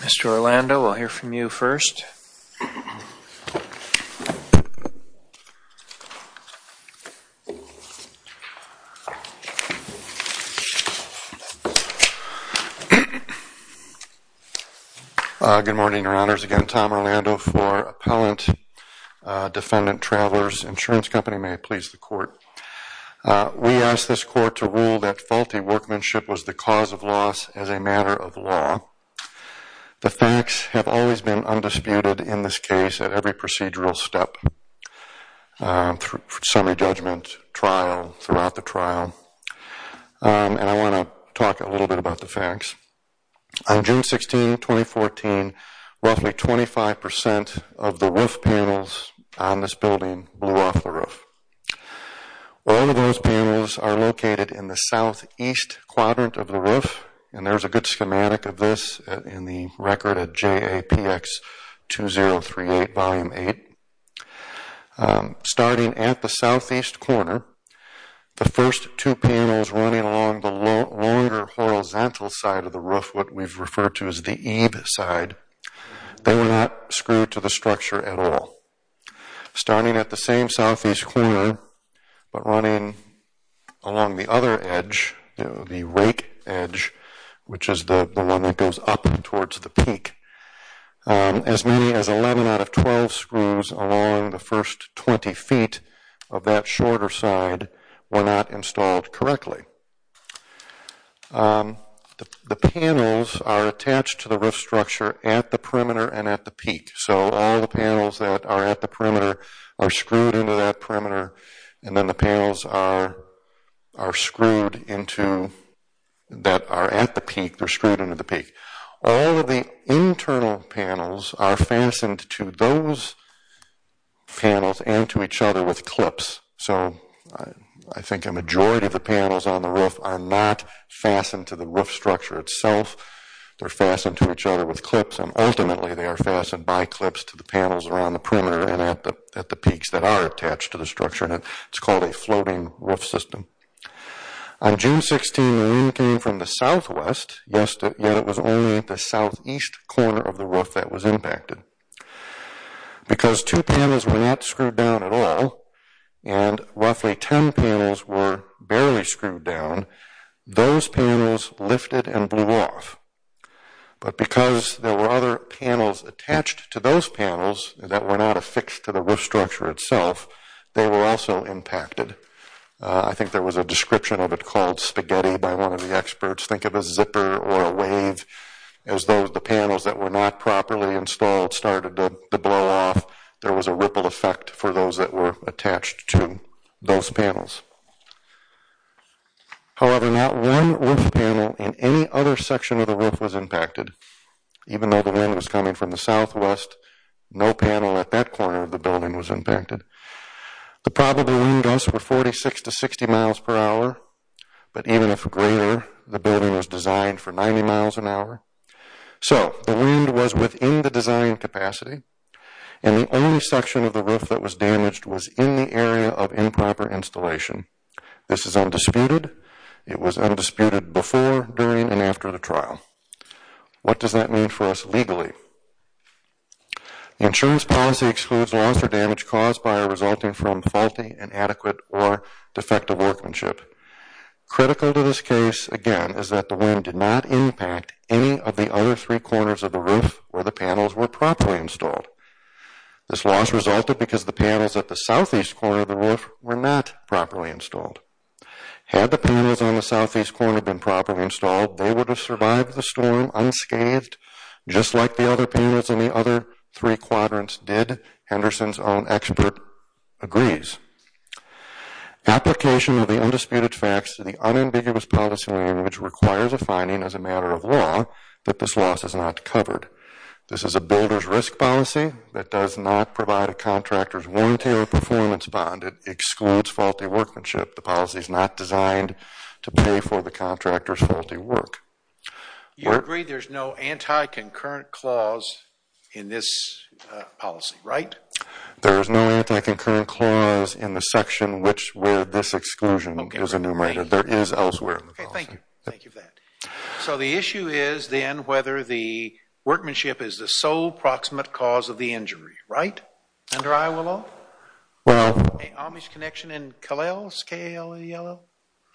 Mr. Orlando, we'll hear from you first. Good morning, Your Honors. Again, Tom Orlando for Appellant Defendant Travelers Insurance Company. May it please the Court. We ask this Court to rule that faulty workmanship was the cause of loss as a matter of law. The facts have always been undisputed in this case at every procedural step, summary judgment, trial, throughout the trial, and I want to talk a little bit about the facts. On June 16, 2014, roughly 25% of the roof panels on this building blew off the roof. All of those panels are located in the southeast quadrant of the roof, and there's a good schematic of this in the record at JAPX 2038 Volume 8. Starting at the southeast corner, the first two panels running along the longer horizontal side of the roof, what we've referred to as the eave side, they were not screwed to the structure at all. Starting at the same southeast corner, but running along the other edge, the rake edge, which is the one that goes up towards the peak, as many as 11 out of 12 screws along the first 20 feet of that shorter side were not installed correctly. The panels are attached to the roof structure at the perimeter and at the peak, so all the panels that are at the perimeter are screwed into that perimeter, and then the panels that are at the peak, they're screwed into the peak. All of the internal panels are fastened to those panels and to each other with clips, so I think a majority of the panels on the roof are not fastened to the roof structure itself, they're fastened to each other with clips, and ultimately they are fastened by clips to the peaks that are attached to the structure, and it's called a floating roof system. On June 16, the wind came from the southwest, yet it was only at the southeast corner of the roof that was impacted. Because two panels were not screwed down at all, and roughly 10 panels were barely screwed down, those panels lifted and blew off. But because there were other panels attached to those panels that were not affixed to the roof structure itself, they were also impacted. I think there was a description of it called spaghetti by one of the experts, think of a zipper or a wave, as though the panels that were not properly installed started to blow off, there was a ripple effect for those that were attached to those panels. However, not one roof panel in any other section of the roof was impacted, even though the wind was coming from the southwest, no panel at that corner of the building was impacted. The probable wind gusts were 46 to 60 miles per hour, but even if greater, the building was designed for 90 miles an hour. So the wind was within the design capacity, and the only section of the roof that was damaged was in the during and after the trial. What does that mean for us legally? The insurance policy excludes loss or damage caused by or resulting from faulty, inadequate, or defective workmanship. Critical to this case, again, is that the wind did not impact any of the other three corners of the roof where the panels were properly installed. This loss resulted because the panels at the southeast corner of the roof were not properly installed. Had the panels on the southeast corner been properly installed, they would have survived the storm unscathed, just like the other panels in the other three quadrants did. Henderson's own expert agrees. Application of the undisputed facts to the unambiguous policy language requires a finding as a matter of law that this loss is not covered. This is a builder's risk policy that does not provide a contractor's warranty or performance excludes faulty workmanship. The policy is not designed to pay for the contractor's faulty work. You agree there's no anti-concurrent clause in this policy, right? There is no anti-concurrent clause in the section which where this exclusion is enumerated. There is elsewhere. Okay, thank you. Thank you for that. So the issue is then whether the workmanship is the sole proximate cause of the injury, right? Under Iowa law? Well,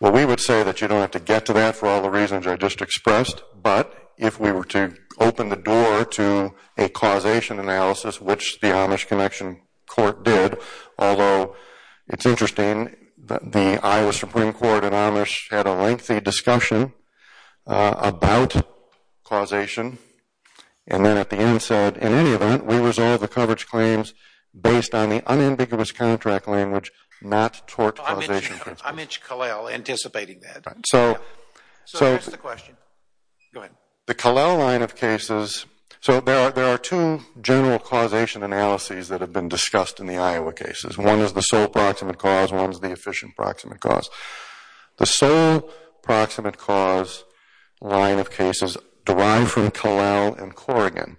we would say that you don't have to get to that for all the reasons I just expressed, but if we were to open the door to a causation analysis, which the Amish Connection Court did, although it's interesting that the Iowa Supreme Court and Amish had a lengthy discussion about causation, and then at the end said, in any event, we resolve the coverage claims based on the unambiguous contract language, not tort causation principle. Amish-Callel, anticipating that. So that's the question. Go ahead. The Callel line of cases, so there are two general causation analyses that have been discussed in the Iowa cases. One is the sole proximate cause, one is the proximate cause line of cases derived from Callel and Corrigan.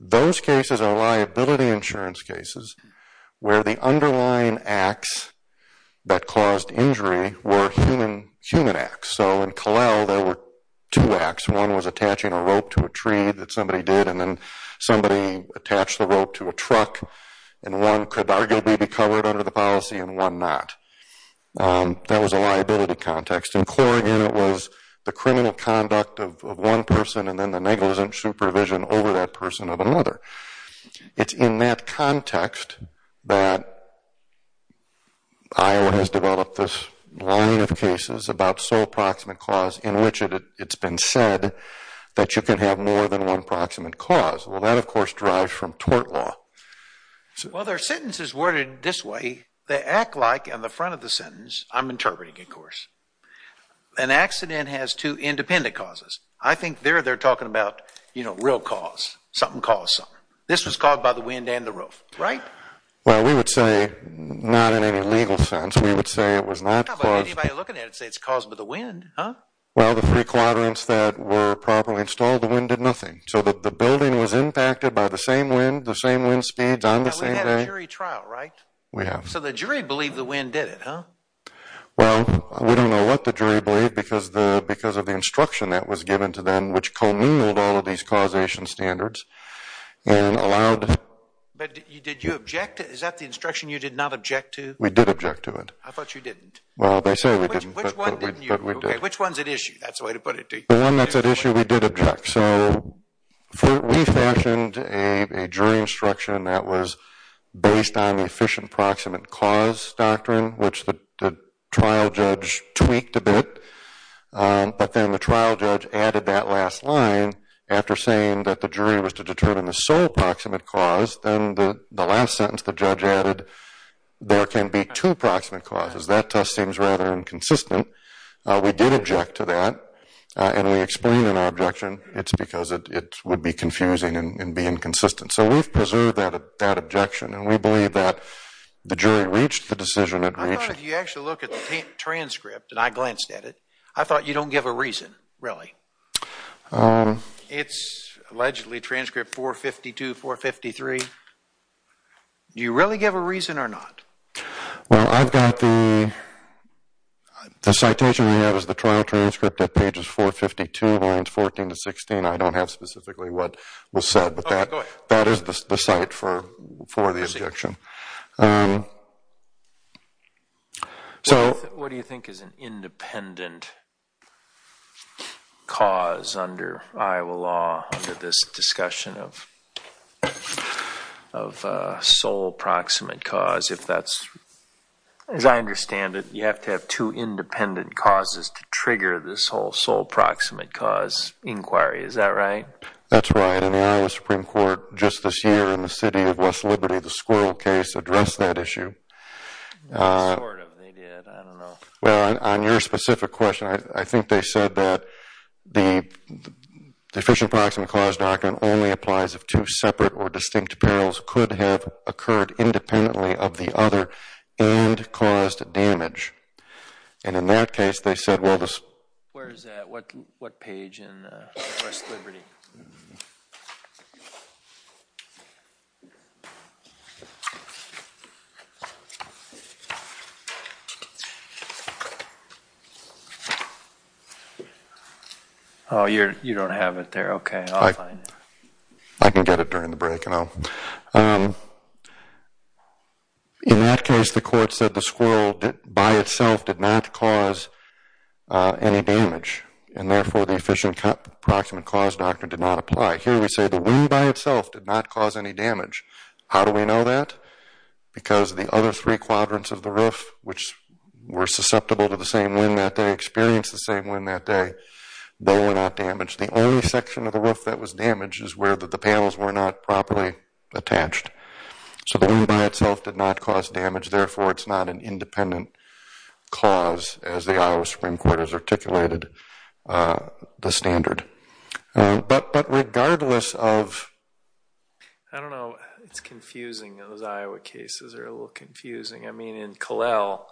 Those cases are liability insurance cases where the underlying acts that caused injury were human acts. So in Callel, there were two acts. One was attaching a rope to a tree that somebody did, and then somebody attached the rope to a truck, and one could arguably be covered under the policy and one not. That was a liability context. In Corrigan, it was the criminal conduct of one person and then the negligent supervision over that person of another. It's in that context that Iowa has developed this line of cases about sole proximate cause in which it's been said that you can have more than one proximate cause. Well, that of course derives from tort law. Well, their sentence is worded this way. They act like, on the front of the sentence, I'm interpreting of course, an accident has two independent causes. I think there they're talking about, you know, real cause. Something caused something. This was caused by the wind and the rope, right? Well, we would say not in any legal sense. We would say it was not caused by the wind, huh? Well, the three quadrants that were properly installed, the wind did nothing. So the building was impacted by the same wind, the same wind speeds on the same day. We have. So the jury believed the wind did it, huh? Well, we don't know what the jury believed because of the instruction that was given to them, which communaled all of these causation standards and allowed... But did you object? Is that the instruction you did not object to? We did object to it. I thought you didn't. Well, they say we didn't, but we did. Which one's at issue? That's the way to put it to you. The one that's at issue, we did object. So we fashioned a jury instruction that was based on the efficient proximate cause doctrine, which the trial judge tweaked a bit. But then the trial judge added that last line after saying that the jury was to determine the sole proximate cause. Then the last sentence the judge added, there can be two proximate causes. That test seems rather inconsistent. We did object to that, and we explained in our objection it's would be confusing and be inconsistent. So we've preserved that objection, and we believe that the jury reached the decision it reached. I thought if you actually look at the transcript, and I glanced at it, I thought you don't give a reason, really. It's allegedly transcript 452, 453. Do you really give a reason or not? Well, I've got the citation we have as the trial judge. I don't have specifically what was said, but that is the site for the objection. What do you think is an independent cause under Iowa law under this discussion of sole proximate cause? As I understand it, you have to have two independent causes to trigger this whole sole proximate cause inquiry. Is that right? That's right. In the Iowa Supreme Court just this year, in the city of West Liberty, the squirrel case addressed that issue. Sort of. They did. I don't know. Well, on your specific question, I think they said that the deficient proximate cause document only applies if two separate or distinct perils could have occurred independently of the other and caused damage. And in that case, they said, well, this... Where is that? What page in West Liberty? Oh, you don't have it there. Okay, I'll find it. I can get it during the break. In that case, the court said the squirrel by itself did not cause any damage, and therefore the deficient proximate cause document did not apply. Here we say the wing by itself did not cause any damage. How do we know that? Because the other three quadrants of the roof, which were susceptible to the same wind that day, experienced the same wind that day, they were not damaged. The only section of the roof that was damaged is where the panels were not properly attached. So the wing by itself did not cause damage, therefore it's not an independent cause as the Iowa Supreme Court has articulated the standard. But regardless of... I don't know. It's confusing. Those Iowa cases are a little confusing. I mean, in Kalel,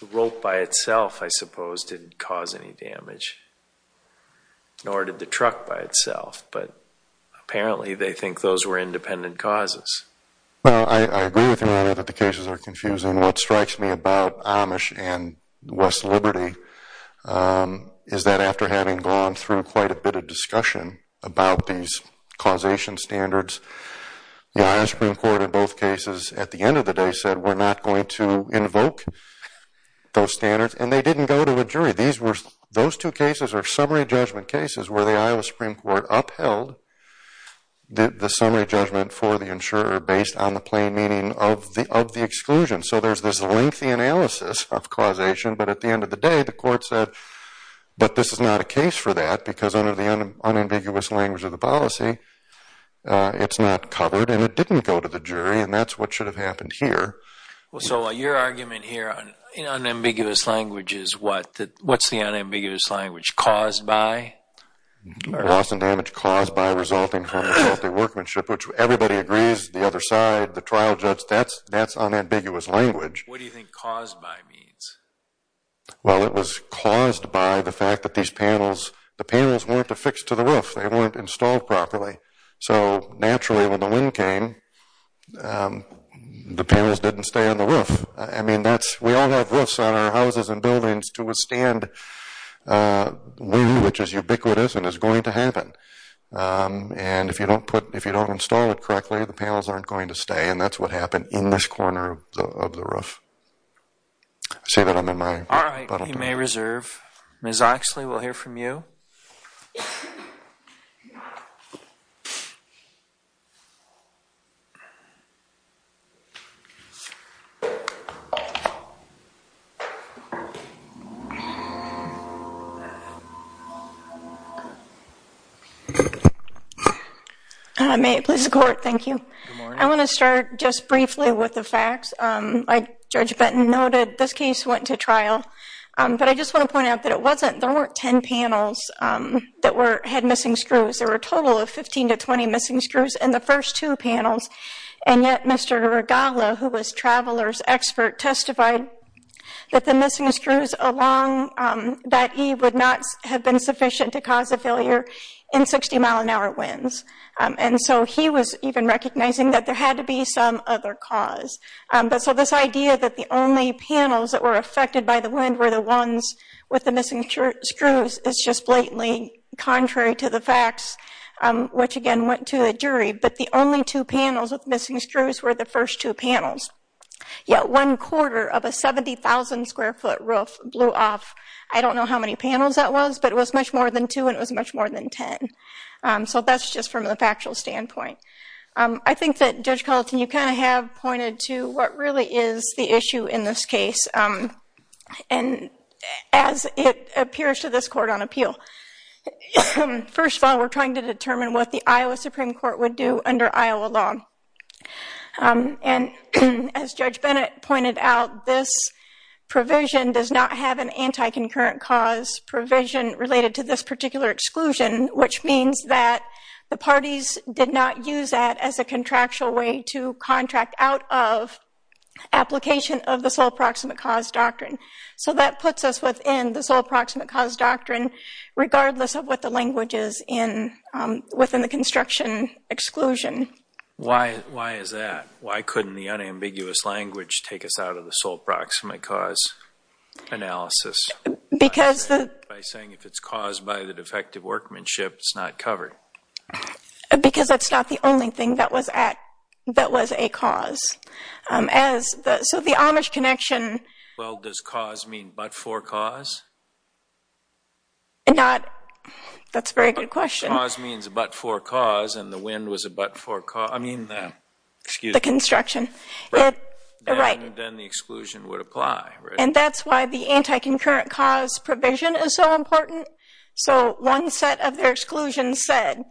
the rope by itself, I suppose, didn't cause any damage, nor did the truck by itself. But they think those were independent causes. Well, I agree with you that the cases are confusing. What strikes me about Amish and West Liberty is that after having gone through quite a bit of discussion about these causation standards, the Iowa Supreme Court in both cases at the end of the day said we're not going to invoke those standards, and they didn't go to a jury. Those two cases are summary judgment cases where the Iowa Supreme Court upheld the summary judgment for the insurer based on the plain meaning of the exclusion. So there's this lengthy analysis of causation, but at the end of the day, the court said, but this is not a case for that because under the unambiguous language of the policy, it's not covered, and it didn't go to the jury, and that's what should have happened here. So your argument here in unambiguous language is what's the unambiguous language? Caused by? Loss and damage caused by resulting from the faulty workmanship, which everybody agrees, the other side, the trial judge, that's unambiguous language. What do you think caused by means? Well, it was caused by the fact that these panels, the panels weren't affixed to the roof. They weren't installed properly. So naturally when the wind came, the panels didn't stay on the roof. I mean, we all have roofs on our houses and buildings to withstand wind, which is ubiquitous and is going to happen, and if you don't put, if you don't install it correctly, the panels aren't going to stay, and that's what happened in this corner of the roof. I say that I'm in my... All right, you may reserve. Ms. Oxley, we'll hear from you. May it please the court, thank you. I want to start just briefly with the facts. Judge Benton noted this case went to trial, but I just want to point out that it wasn't, there weren't 10 panels that had missing screws. There were a total of 15 to 20 missing screws in the first two panels, and yet Mr. Regala, who was Traveler's expert, testified that the missing screws along that eave would not have been sufficient to cause a failure in 60-mile-an-hour winds, and so he was even recognizing that there had to be some other cause. But so this idea that the only panels that were affected by the wind were the ones with the missing screws is just blatantly contrary to the facts, which again went to a jury, but the only two panels with missing roof blew off. I don't know how many panels that was, but it was much more than two, and it was much more than 10. So that's just from the factual standpoint. I think that Judge Culleton, you kind of have pointed to what really is the issue in this case, and as it appears to this court on appeal. First of all, we're trying to determine what the Iowa Supreme Court would do provision does not have an anti-concurrent cause provision related to this particular exclusion, which means that the parties did not use that as a contractual way to contract out of application of the sole proximate cause doctrine. So that puts us within the sole proximate cause doctrine, regardless of what the language is in within the construction exclusion. Why is that? Why couldn't the unambiguous language take us out of the sole proximate cause analysis? Because... By saying if it's caused by the defective workmanship, it's not covered. Because that's not the only thing that was a cause. So the Amish connection... Well, does cause mean but-for cause? Not... That's a very good question. Cause means but-for cause, and the wind was a but-for cause. I mean, excuse me. Right. Then the exclusion would apply, right? And that's why the anti-concurrent cause provision is so important. So one set of their exclusions said,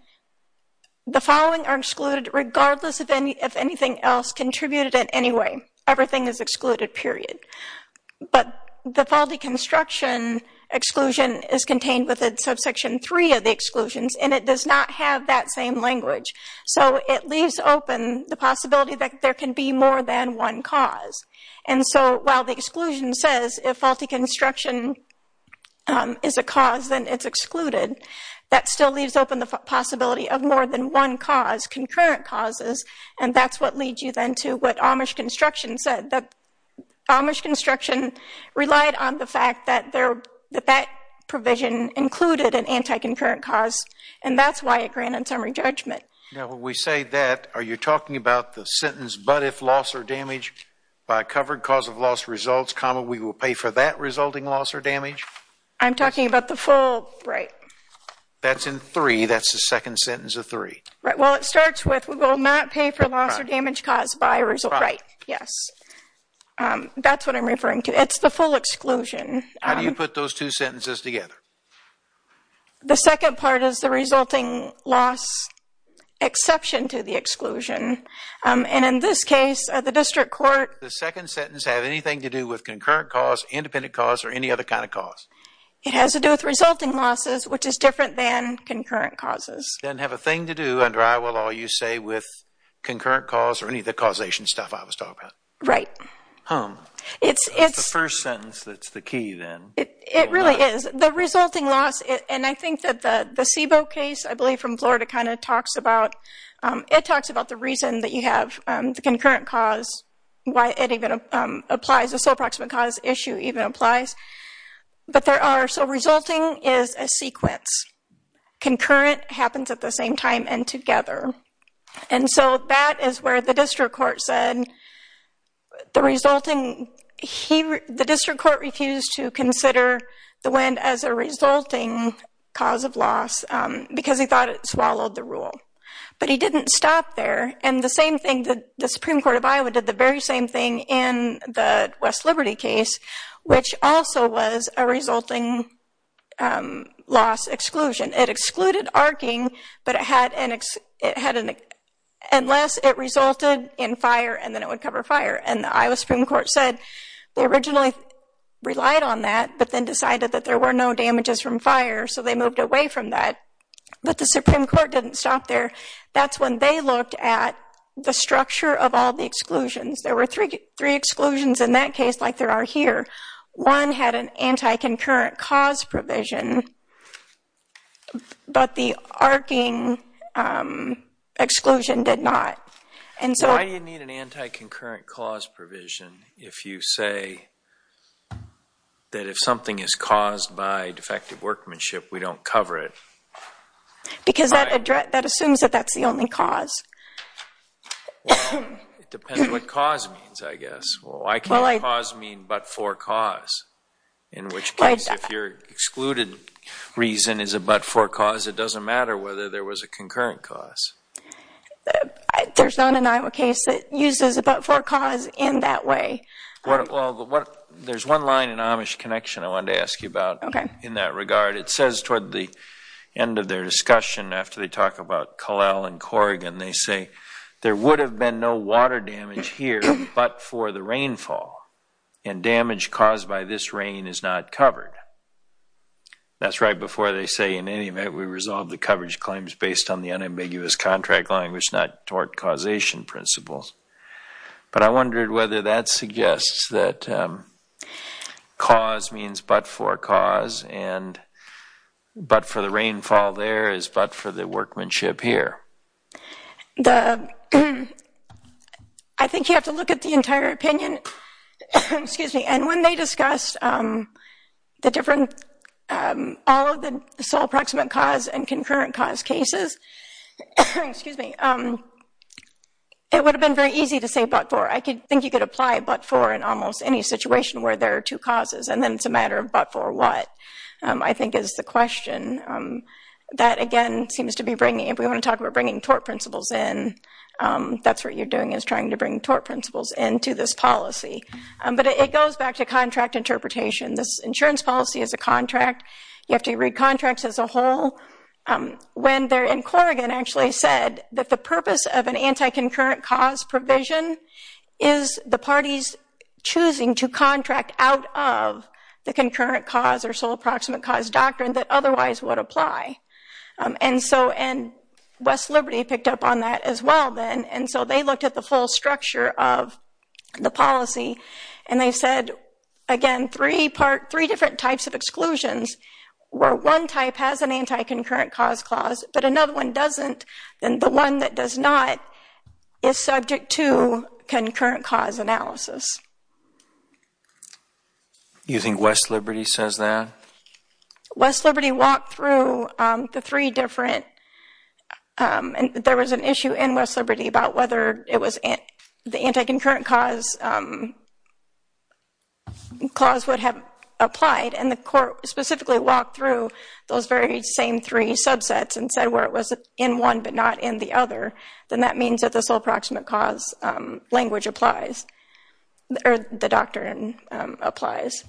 the following are excluded regardless if anything else contributed in any way. Everything is excluded, period. But the faulty construction exclusion is contained within subsection three of the exclusions, and it does not have that same language. So it leaves open the possibility that there can be more than one cause. And so while the exclusion says, if faulty construction is a cause, then it's excluded. That still leaves open the possibility of more than one cause, concurrent causes, and that's what leads you then to what Amish construction said. That Amish construction relied on the fact that that provision included an anti-concurrent cause, and that's why it granted summary judgment. Now, when we say that, are you talking about the sentence, but if loss or damage by covered cause of loss results, we will pay for that resulting loss or damage? I'm talking about the full, right. That's in three. That's the second sentence of three. Right. Well, it starts with, we will not pay for loss or damage caused by result, right? Yes. That's what I'm referring to. It's the full exclusion. How do you put those two sentences together? The second part is the resulting loss exception to the exclusion. And in this case, the district court. The second sentence have anything to do with concurrent cause, independent cause, or any other kind of cause? It has to do with resulting losses, which is different than concurrent causes. Then have a thing to do under Iowa law, you say, with concurrent cause or any of the causation stuff I was talking about. Right. It's the first sentence that's the key then. It really is. The resulting loss, and I think that the Sebo case, I believe from Florida, kind of talks about, it talks about the reason that you have the concurrent cause, why it even applies, the sole proximate cause issue even applies. But there are, so resulting is a sequence. Concurrent happens at the same time and together. And so that is where the district court said, the resulting, the district court refused to consider the wind as a resulting cause of loss because he thought it swallowed the rule. But he didn't stop there. And the same thing, the Supreme Court of Iowa did the very same thing in the West Liberty case, which also was a resulting loss exclusion. It excluded arcing, but it had an, unless it resulted in fire and then it would cover fire. And the Iowa Supreme Court said they originally relied on that, but then decided that there were no damages from fire. So they moved away from that. But the Supreme Court didn't stop there. That's when they looked at the structure of all the exclusions. There were three exclusions in that case, like there are here. One had an anti-concurrent cause provision. But the arcing exclusion did not. And so... Why do you need an anti-concurrent cause provision if you say that if something is caused by defective workmanship, we don't cover it? Because that assumes that that's the only cause. It depends what cause means, I guess. Why can't cause mean but for cause? In which case, if your excluded reason is a but-for cause, it doesn't matter whether there was a concurrent cause. There's not an Iowa case that uses a but-for cause in that way. Well, there's one line in Amish Connection I wanted to ask you about in that regard. It says toward the end of their discussion, after they talk about Collal and Corrigan, they say there would have been no water damage here but for the rainfall. And damage caused by this rain is not covered. That's right before they say, in any event, we resolve the coverage claims based on the unambiguous contract language, not toward causation principles. But I wondered whether that suggests that cause means but-for cause, and but for the rainfall there is but for the workmanship here. The, I think you have to look at the entire opinion, excuse me, and when they discuss the different, all of the sole approximate cause and concurrent cause cases, excuse me, it would have been very easy to say but-for. I think you could apply but-for in almost any situation where there are two causes, and then it's a matter of but-for what, I think is the question. That again seems to be bringing, if we want to talk about bringing tort principles in, that's what you're doing is trying to bring tort principles into this policy. But it goes back to contract interpretation. This insurance policy is a contract. You have to read contracts as a whole. When they're in Corrigan actually said that the purpose of an anti-concurrent cause provision is the parties choosing to contract out of the concurrent cause or sole approximate doctrine that otherwise would apply. And so, and West Liberty picked up on that as well then, and so they looked at the full structure of the policy and they said, again, three part, three different types of exclusions where one type has an anti-concurrent cause clause but another one doesn't, and the one that does not is subject to concurrent cause analysis. You think West Liberty says that? West Liberty walked through the three different, and there was an issue in West Liberty about whether it was the anti-concurrent cause clause would have applied and the court specifically walked through those very same three subsets and said where it was in one but not in the other, then that means that the sole approximate cause language applies, or the doctrine applies.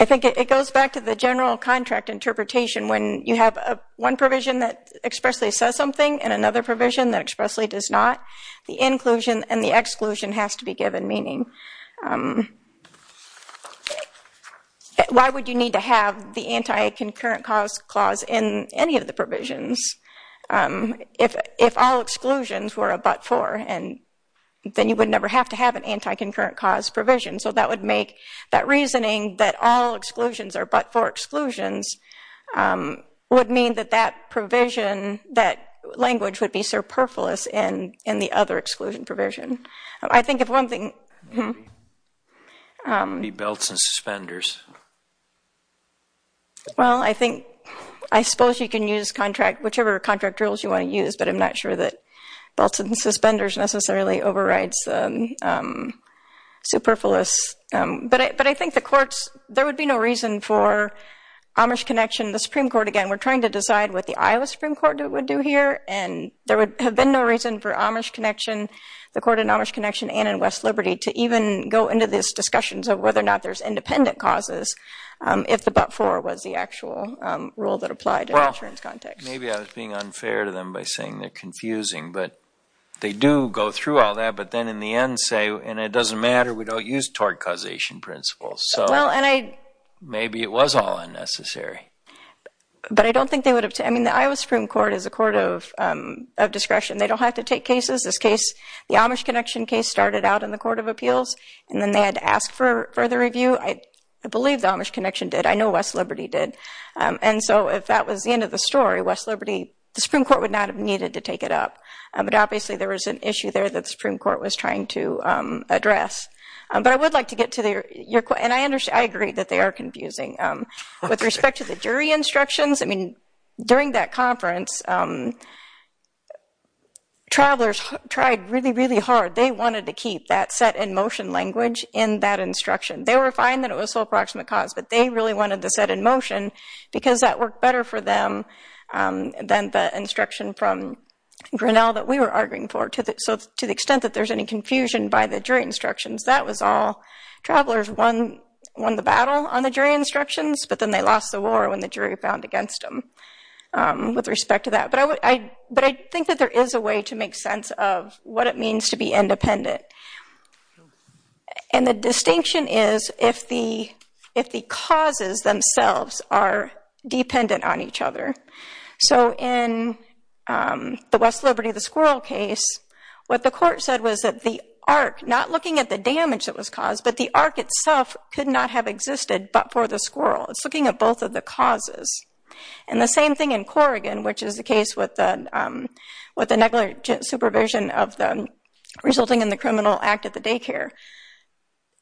I think it goes back to the general contract interpretation when you have one provision that expressly says something and another provision that expressly does not, the inclusion and the exclusion has to be given, meaning why would you need to have the anti-concurrent cause clause in any of the provisions if all exclusions were a but-for, and then you would never have to have an anti-concurrent cause provision, so that would make that reasoning that all exclusions are but-for exclusions would mean that that provision, that language would be superfluous in the other exclusion provision. I think if one thing, How many belts and suspenders? Well, I think, I suppose you can use contract, whichever contract rules you want to use, but I'm not sure that belts and suspenders necessarily overrides superfluous, but I think the courts, there would be no reason for Amish Connection, the Supreme Court, again, we're trying to decide what the Iowa Supreme Court would do here, and there would have been no reason for Amish Connection, the court in Amish Connection, and in West Liberty to even go into these discussions of whether or not there's independent causes if the but-for was the actual rule that applied to insurance context. Maybe I was being unfair to them by saying they're confusing, but they do go through all that, but then in the end say, and it doesn't matter, we don't use tort causation principles, so maybe it was all unnecessary. But I don't think they would have, I mean, the Iowa Supreme Court is a court of discretion. They don't have to take cases. This case, the Amish Connection case started out in the Court of Appeals, and then they had to ask for further review. I believe the Amish Connection did. I know West Liberty did, and so if that was the end of the story, West Liberty, the Supreme Court would not have needed to take it up, but obviously there was an issue there that the Supreme Court was trying to address, but I would like to get to your question, and I understand, I agree that they are confusing. With respect to the jury instructions, I mean, during that set-in-motion language in that instruction, they were fine that it was sole proximate cause, but they really wanted the set-in-motion because that worked better for them than the instruction from Grinnell that we were arguing for. So to the extent that there's any confusion by the jury instructions, that was all. Travelers won the battle on the jury instructions, but then they lost the war when the jury found against them with respect to that, but I think that there is a way to make sense of what it means to be independent, and the distinction is if the causes themselves are dependent on each other. So in the West Liberty, the squirrel case, what the court said was that the arc, not looking at the damage that was caused, but the arc itself could not have existed but for the squirrel. It's looking at both of the causes, and the same thing in Corrigan, which is the case with the negligent supervision resulting in the criminal act at the daycare.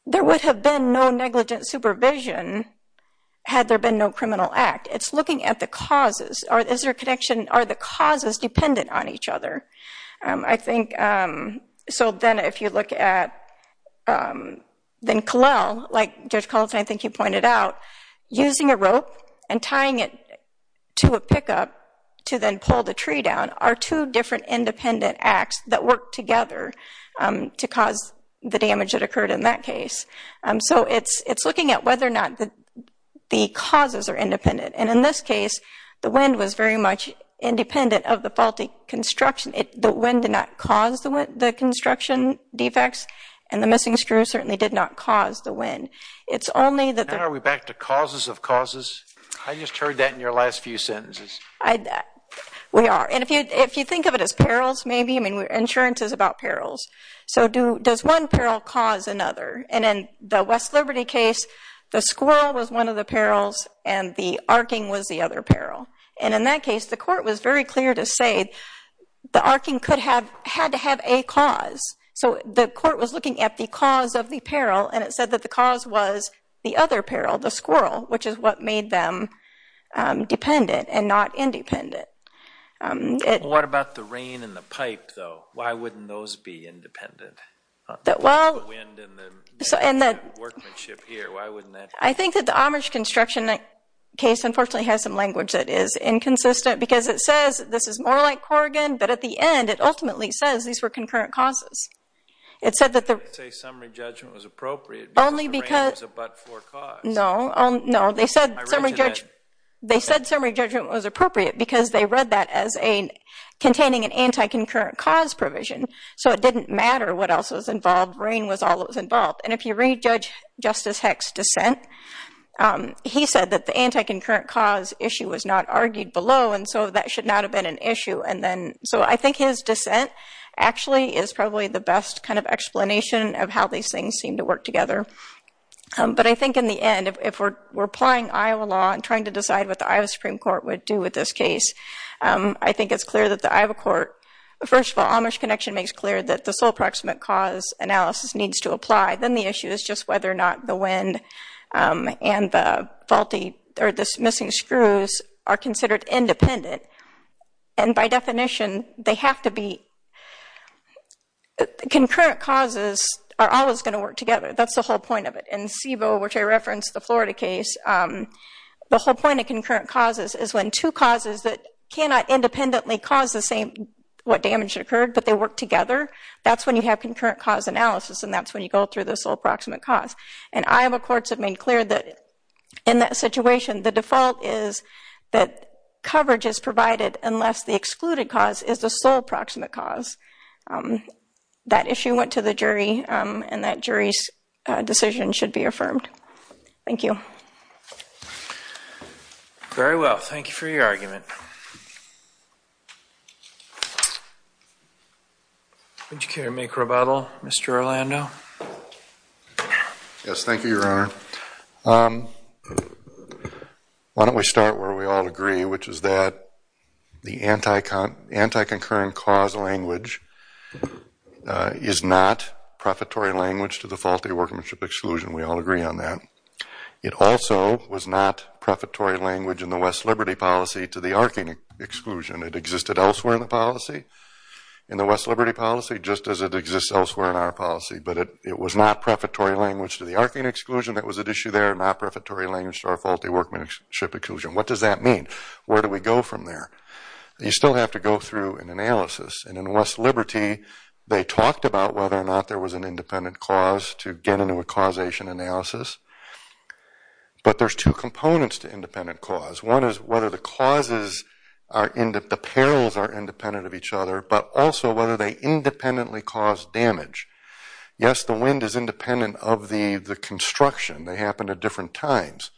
There would have been no negligent supervision had there been no criminal act. It's looking at the causes. Are the causes dependent on each other? So then if you look at then Colell, like Judge Culleton, I think you pointed out, using a rope and tying it to a pickup to then pull the tree down are two different independent acts that work together to cause the damage that occurred in that case. So it's looking at whether or not the causes are independent, and in this case, the wind was very much independent of the faulty construction. The wind did not cause the construction defects, and the missing screw certainly did not cause the wind. It's only that... Now are we back to causes of causes? I just heard that in your last few sentences. We are. And if you think of it as perils, maybe, I mean insurance is about perils. So does one peril cause another? And in the West Liberty case, the squirrel was one of the perils, and the arcing was the other peril. And in that case, the court was very clear to say the arcing could have had to have a cause. So the court was looking at the cause of the peril, and it said that the cause was the other peril, the squirrel, which is what made them dependent and not independent. What about the rain and the pipe though? Why wouldn't those be independent? The wind and the workmanship here, why wouldn't that be? I think that the Amherst construction case unfortunately has some language that is inconsistent because it says this is more like Corrigan, but at the end it ultimately says these were concurrent causes. It said that the... They didn't say summary judgment was appropriate because the rain was a but-for cause. No, they said summary judgment was appropriate because they read that as containing an anti-concurrent cause provision. So it didn't matter what else was involved, rain was all that was involved. And if you read Justice Heck's dissent, he said that the So I think his dissent actually is probably the best kind of explanation of how these things seem to work together. But I think in the end, if we're applying Iowa law and trying to decide what the Iowa Supreme Court would do with this case, I think it's clear that the Iowa court... First of all, Amherst connection makes clear that the sole proximate cause analysis needs to apply. Then the issue is just whether or not the wind and the faulty or the missing screws are considered independent. And by definition, they have to be... Concurrent causes are always going to work together. That's the whole point of it. In SIVO, which I referenced, the Florida case, the whole point of concurrent causes is when two causes that cannot independently cause the same what damage occurred, but they work together. That's when you have concurrent cause analysis, and that's when you go through the sole proximate cause. And Iowa courts have made clear that in that situation, the default is that coverage is provided unless the excluded cause is the sole proximate cause. That issue went to the jury, and that jury's decision should be affirmed. Thank you. Very well. Thank you for your argument. Thank you. Would you care to make rebuttal, Mr. Orlando? Yes, thank you, Your Honor. Why don't we start where we all agree, which is that the anti-concurrent cause language is not prefatory language to the faulty workmanship exclusion. We all agree on that. It also was not prefatory language in the West Liberty policy to the arcing exclusion. It existed elsewhere in the policy, in the West Liberty policy, just as it exists elsewhere in our policy. But it was not prefatory language to the arcing exclusion that was at issue there, not prefatory language to our faulty workmanship exclusion. What does that mean? Where do we go from there? You still have to go through an analysis. And in West Liberty, they talked about whether or not there was an independent cause to get into a causation analysis. But there's two components to independent cause. One is whether the causes are independent, the perils are independent of each other, but also whether they independently cause damage. Yes, the wind is independent of the construction. They happened at different times.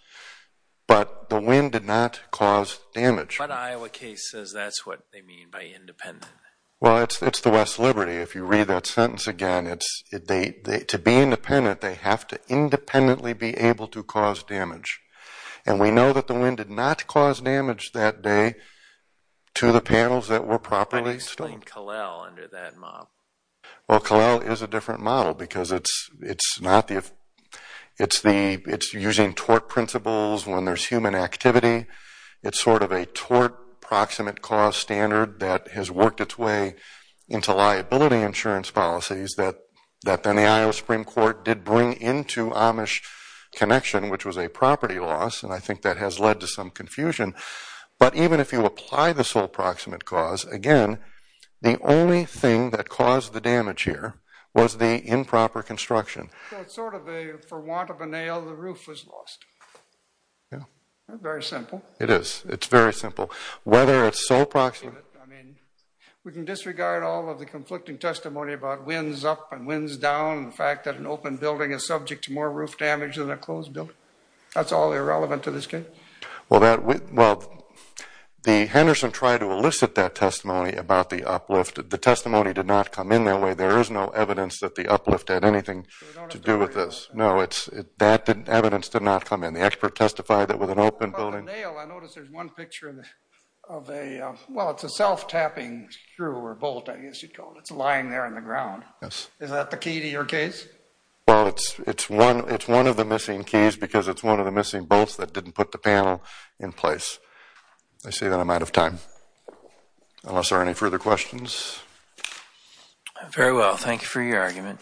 But the wind did not cause damage. But Iowa case says that's what they mean by independent. Well, it's the West Liberty. If you read that sentence again, to be independent, they have to independently be able to cause damage. And we know that the wind did not cause damage that day to the panels that were properly stoned. How do you explain Calel under that model? Well, Calel is a different model because it's using tort principles when there's human activity. It's sort of a tort proximate cause standard that has worked its way into liability insurance policies that then the Iowa Supreme Court did bring into Amish Connection, which was a property loss. And I think that has led to some confusion. But even if you apply the sole proximate cause, again, the only thing that caused the damage here was the improper construction. So it's sort of a, for want of a nail, the roof was lost. Yeah. Very simple. It is. It's very simple. Whether it's sole proximate... I mean, we can disregard all of the conflicting testimony about winds up and winds down, and the fact that an open building is subject to more roof damage than a closed building. That's all irrelevant to this case. Well, Henderson tried to elicit that testimony about the uplift. The testimony did not come in that way. There is no evidence that the uplift had anything to do with this. No, that evidence did not come in. The expert testified that with an open building... I noticed there's one picture of a, well, it's a self-tapping screw or bolt, I guess you'd call it. It's lying there on the ground. Yes. Is that the key to your case? Well, it's one of the missing keys because it's one of the missing bolts that didn't put the panel in place. I say that I'm out of time, unless there are any further questions. Very well. Thank you for your argument.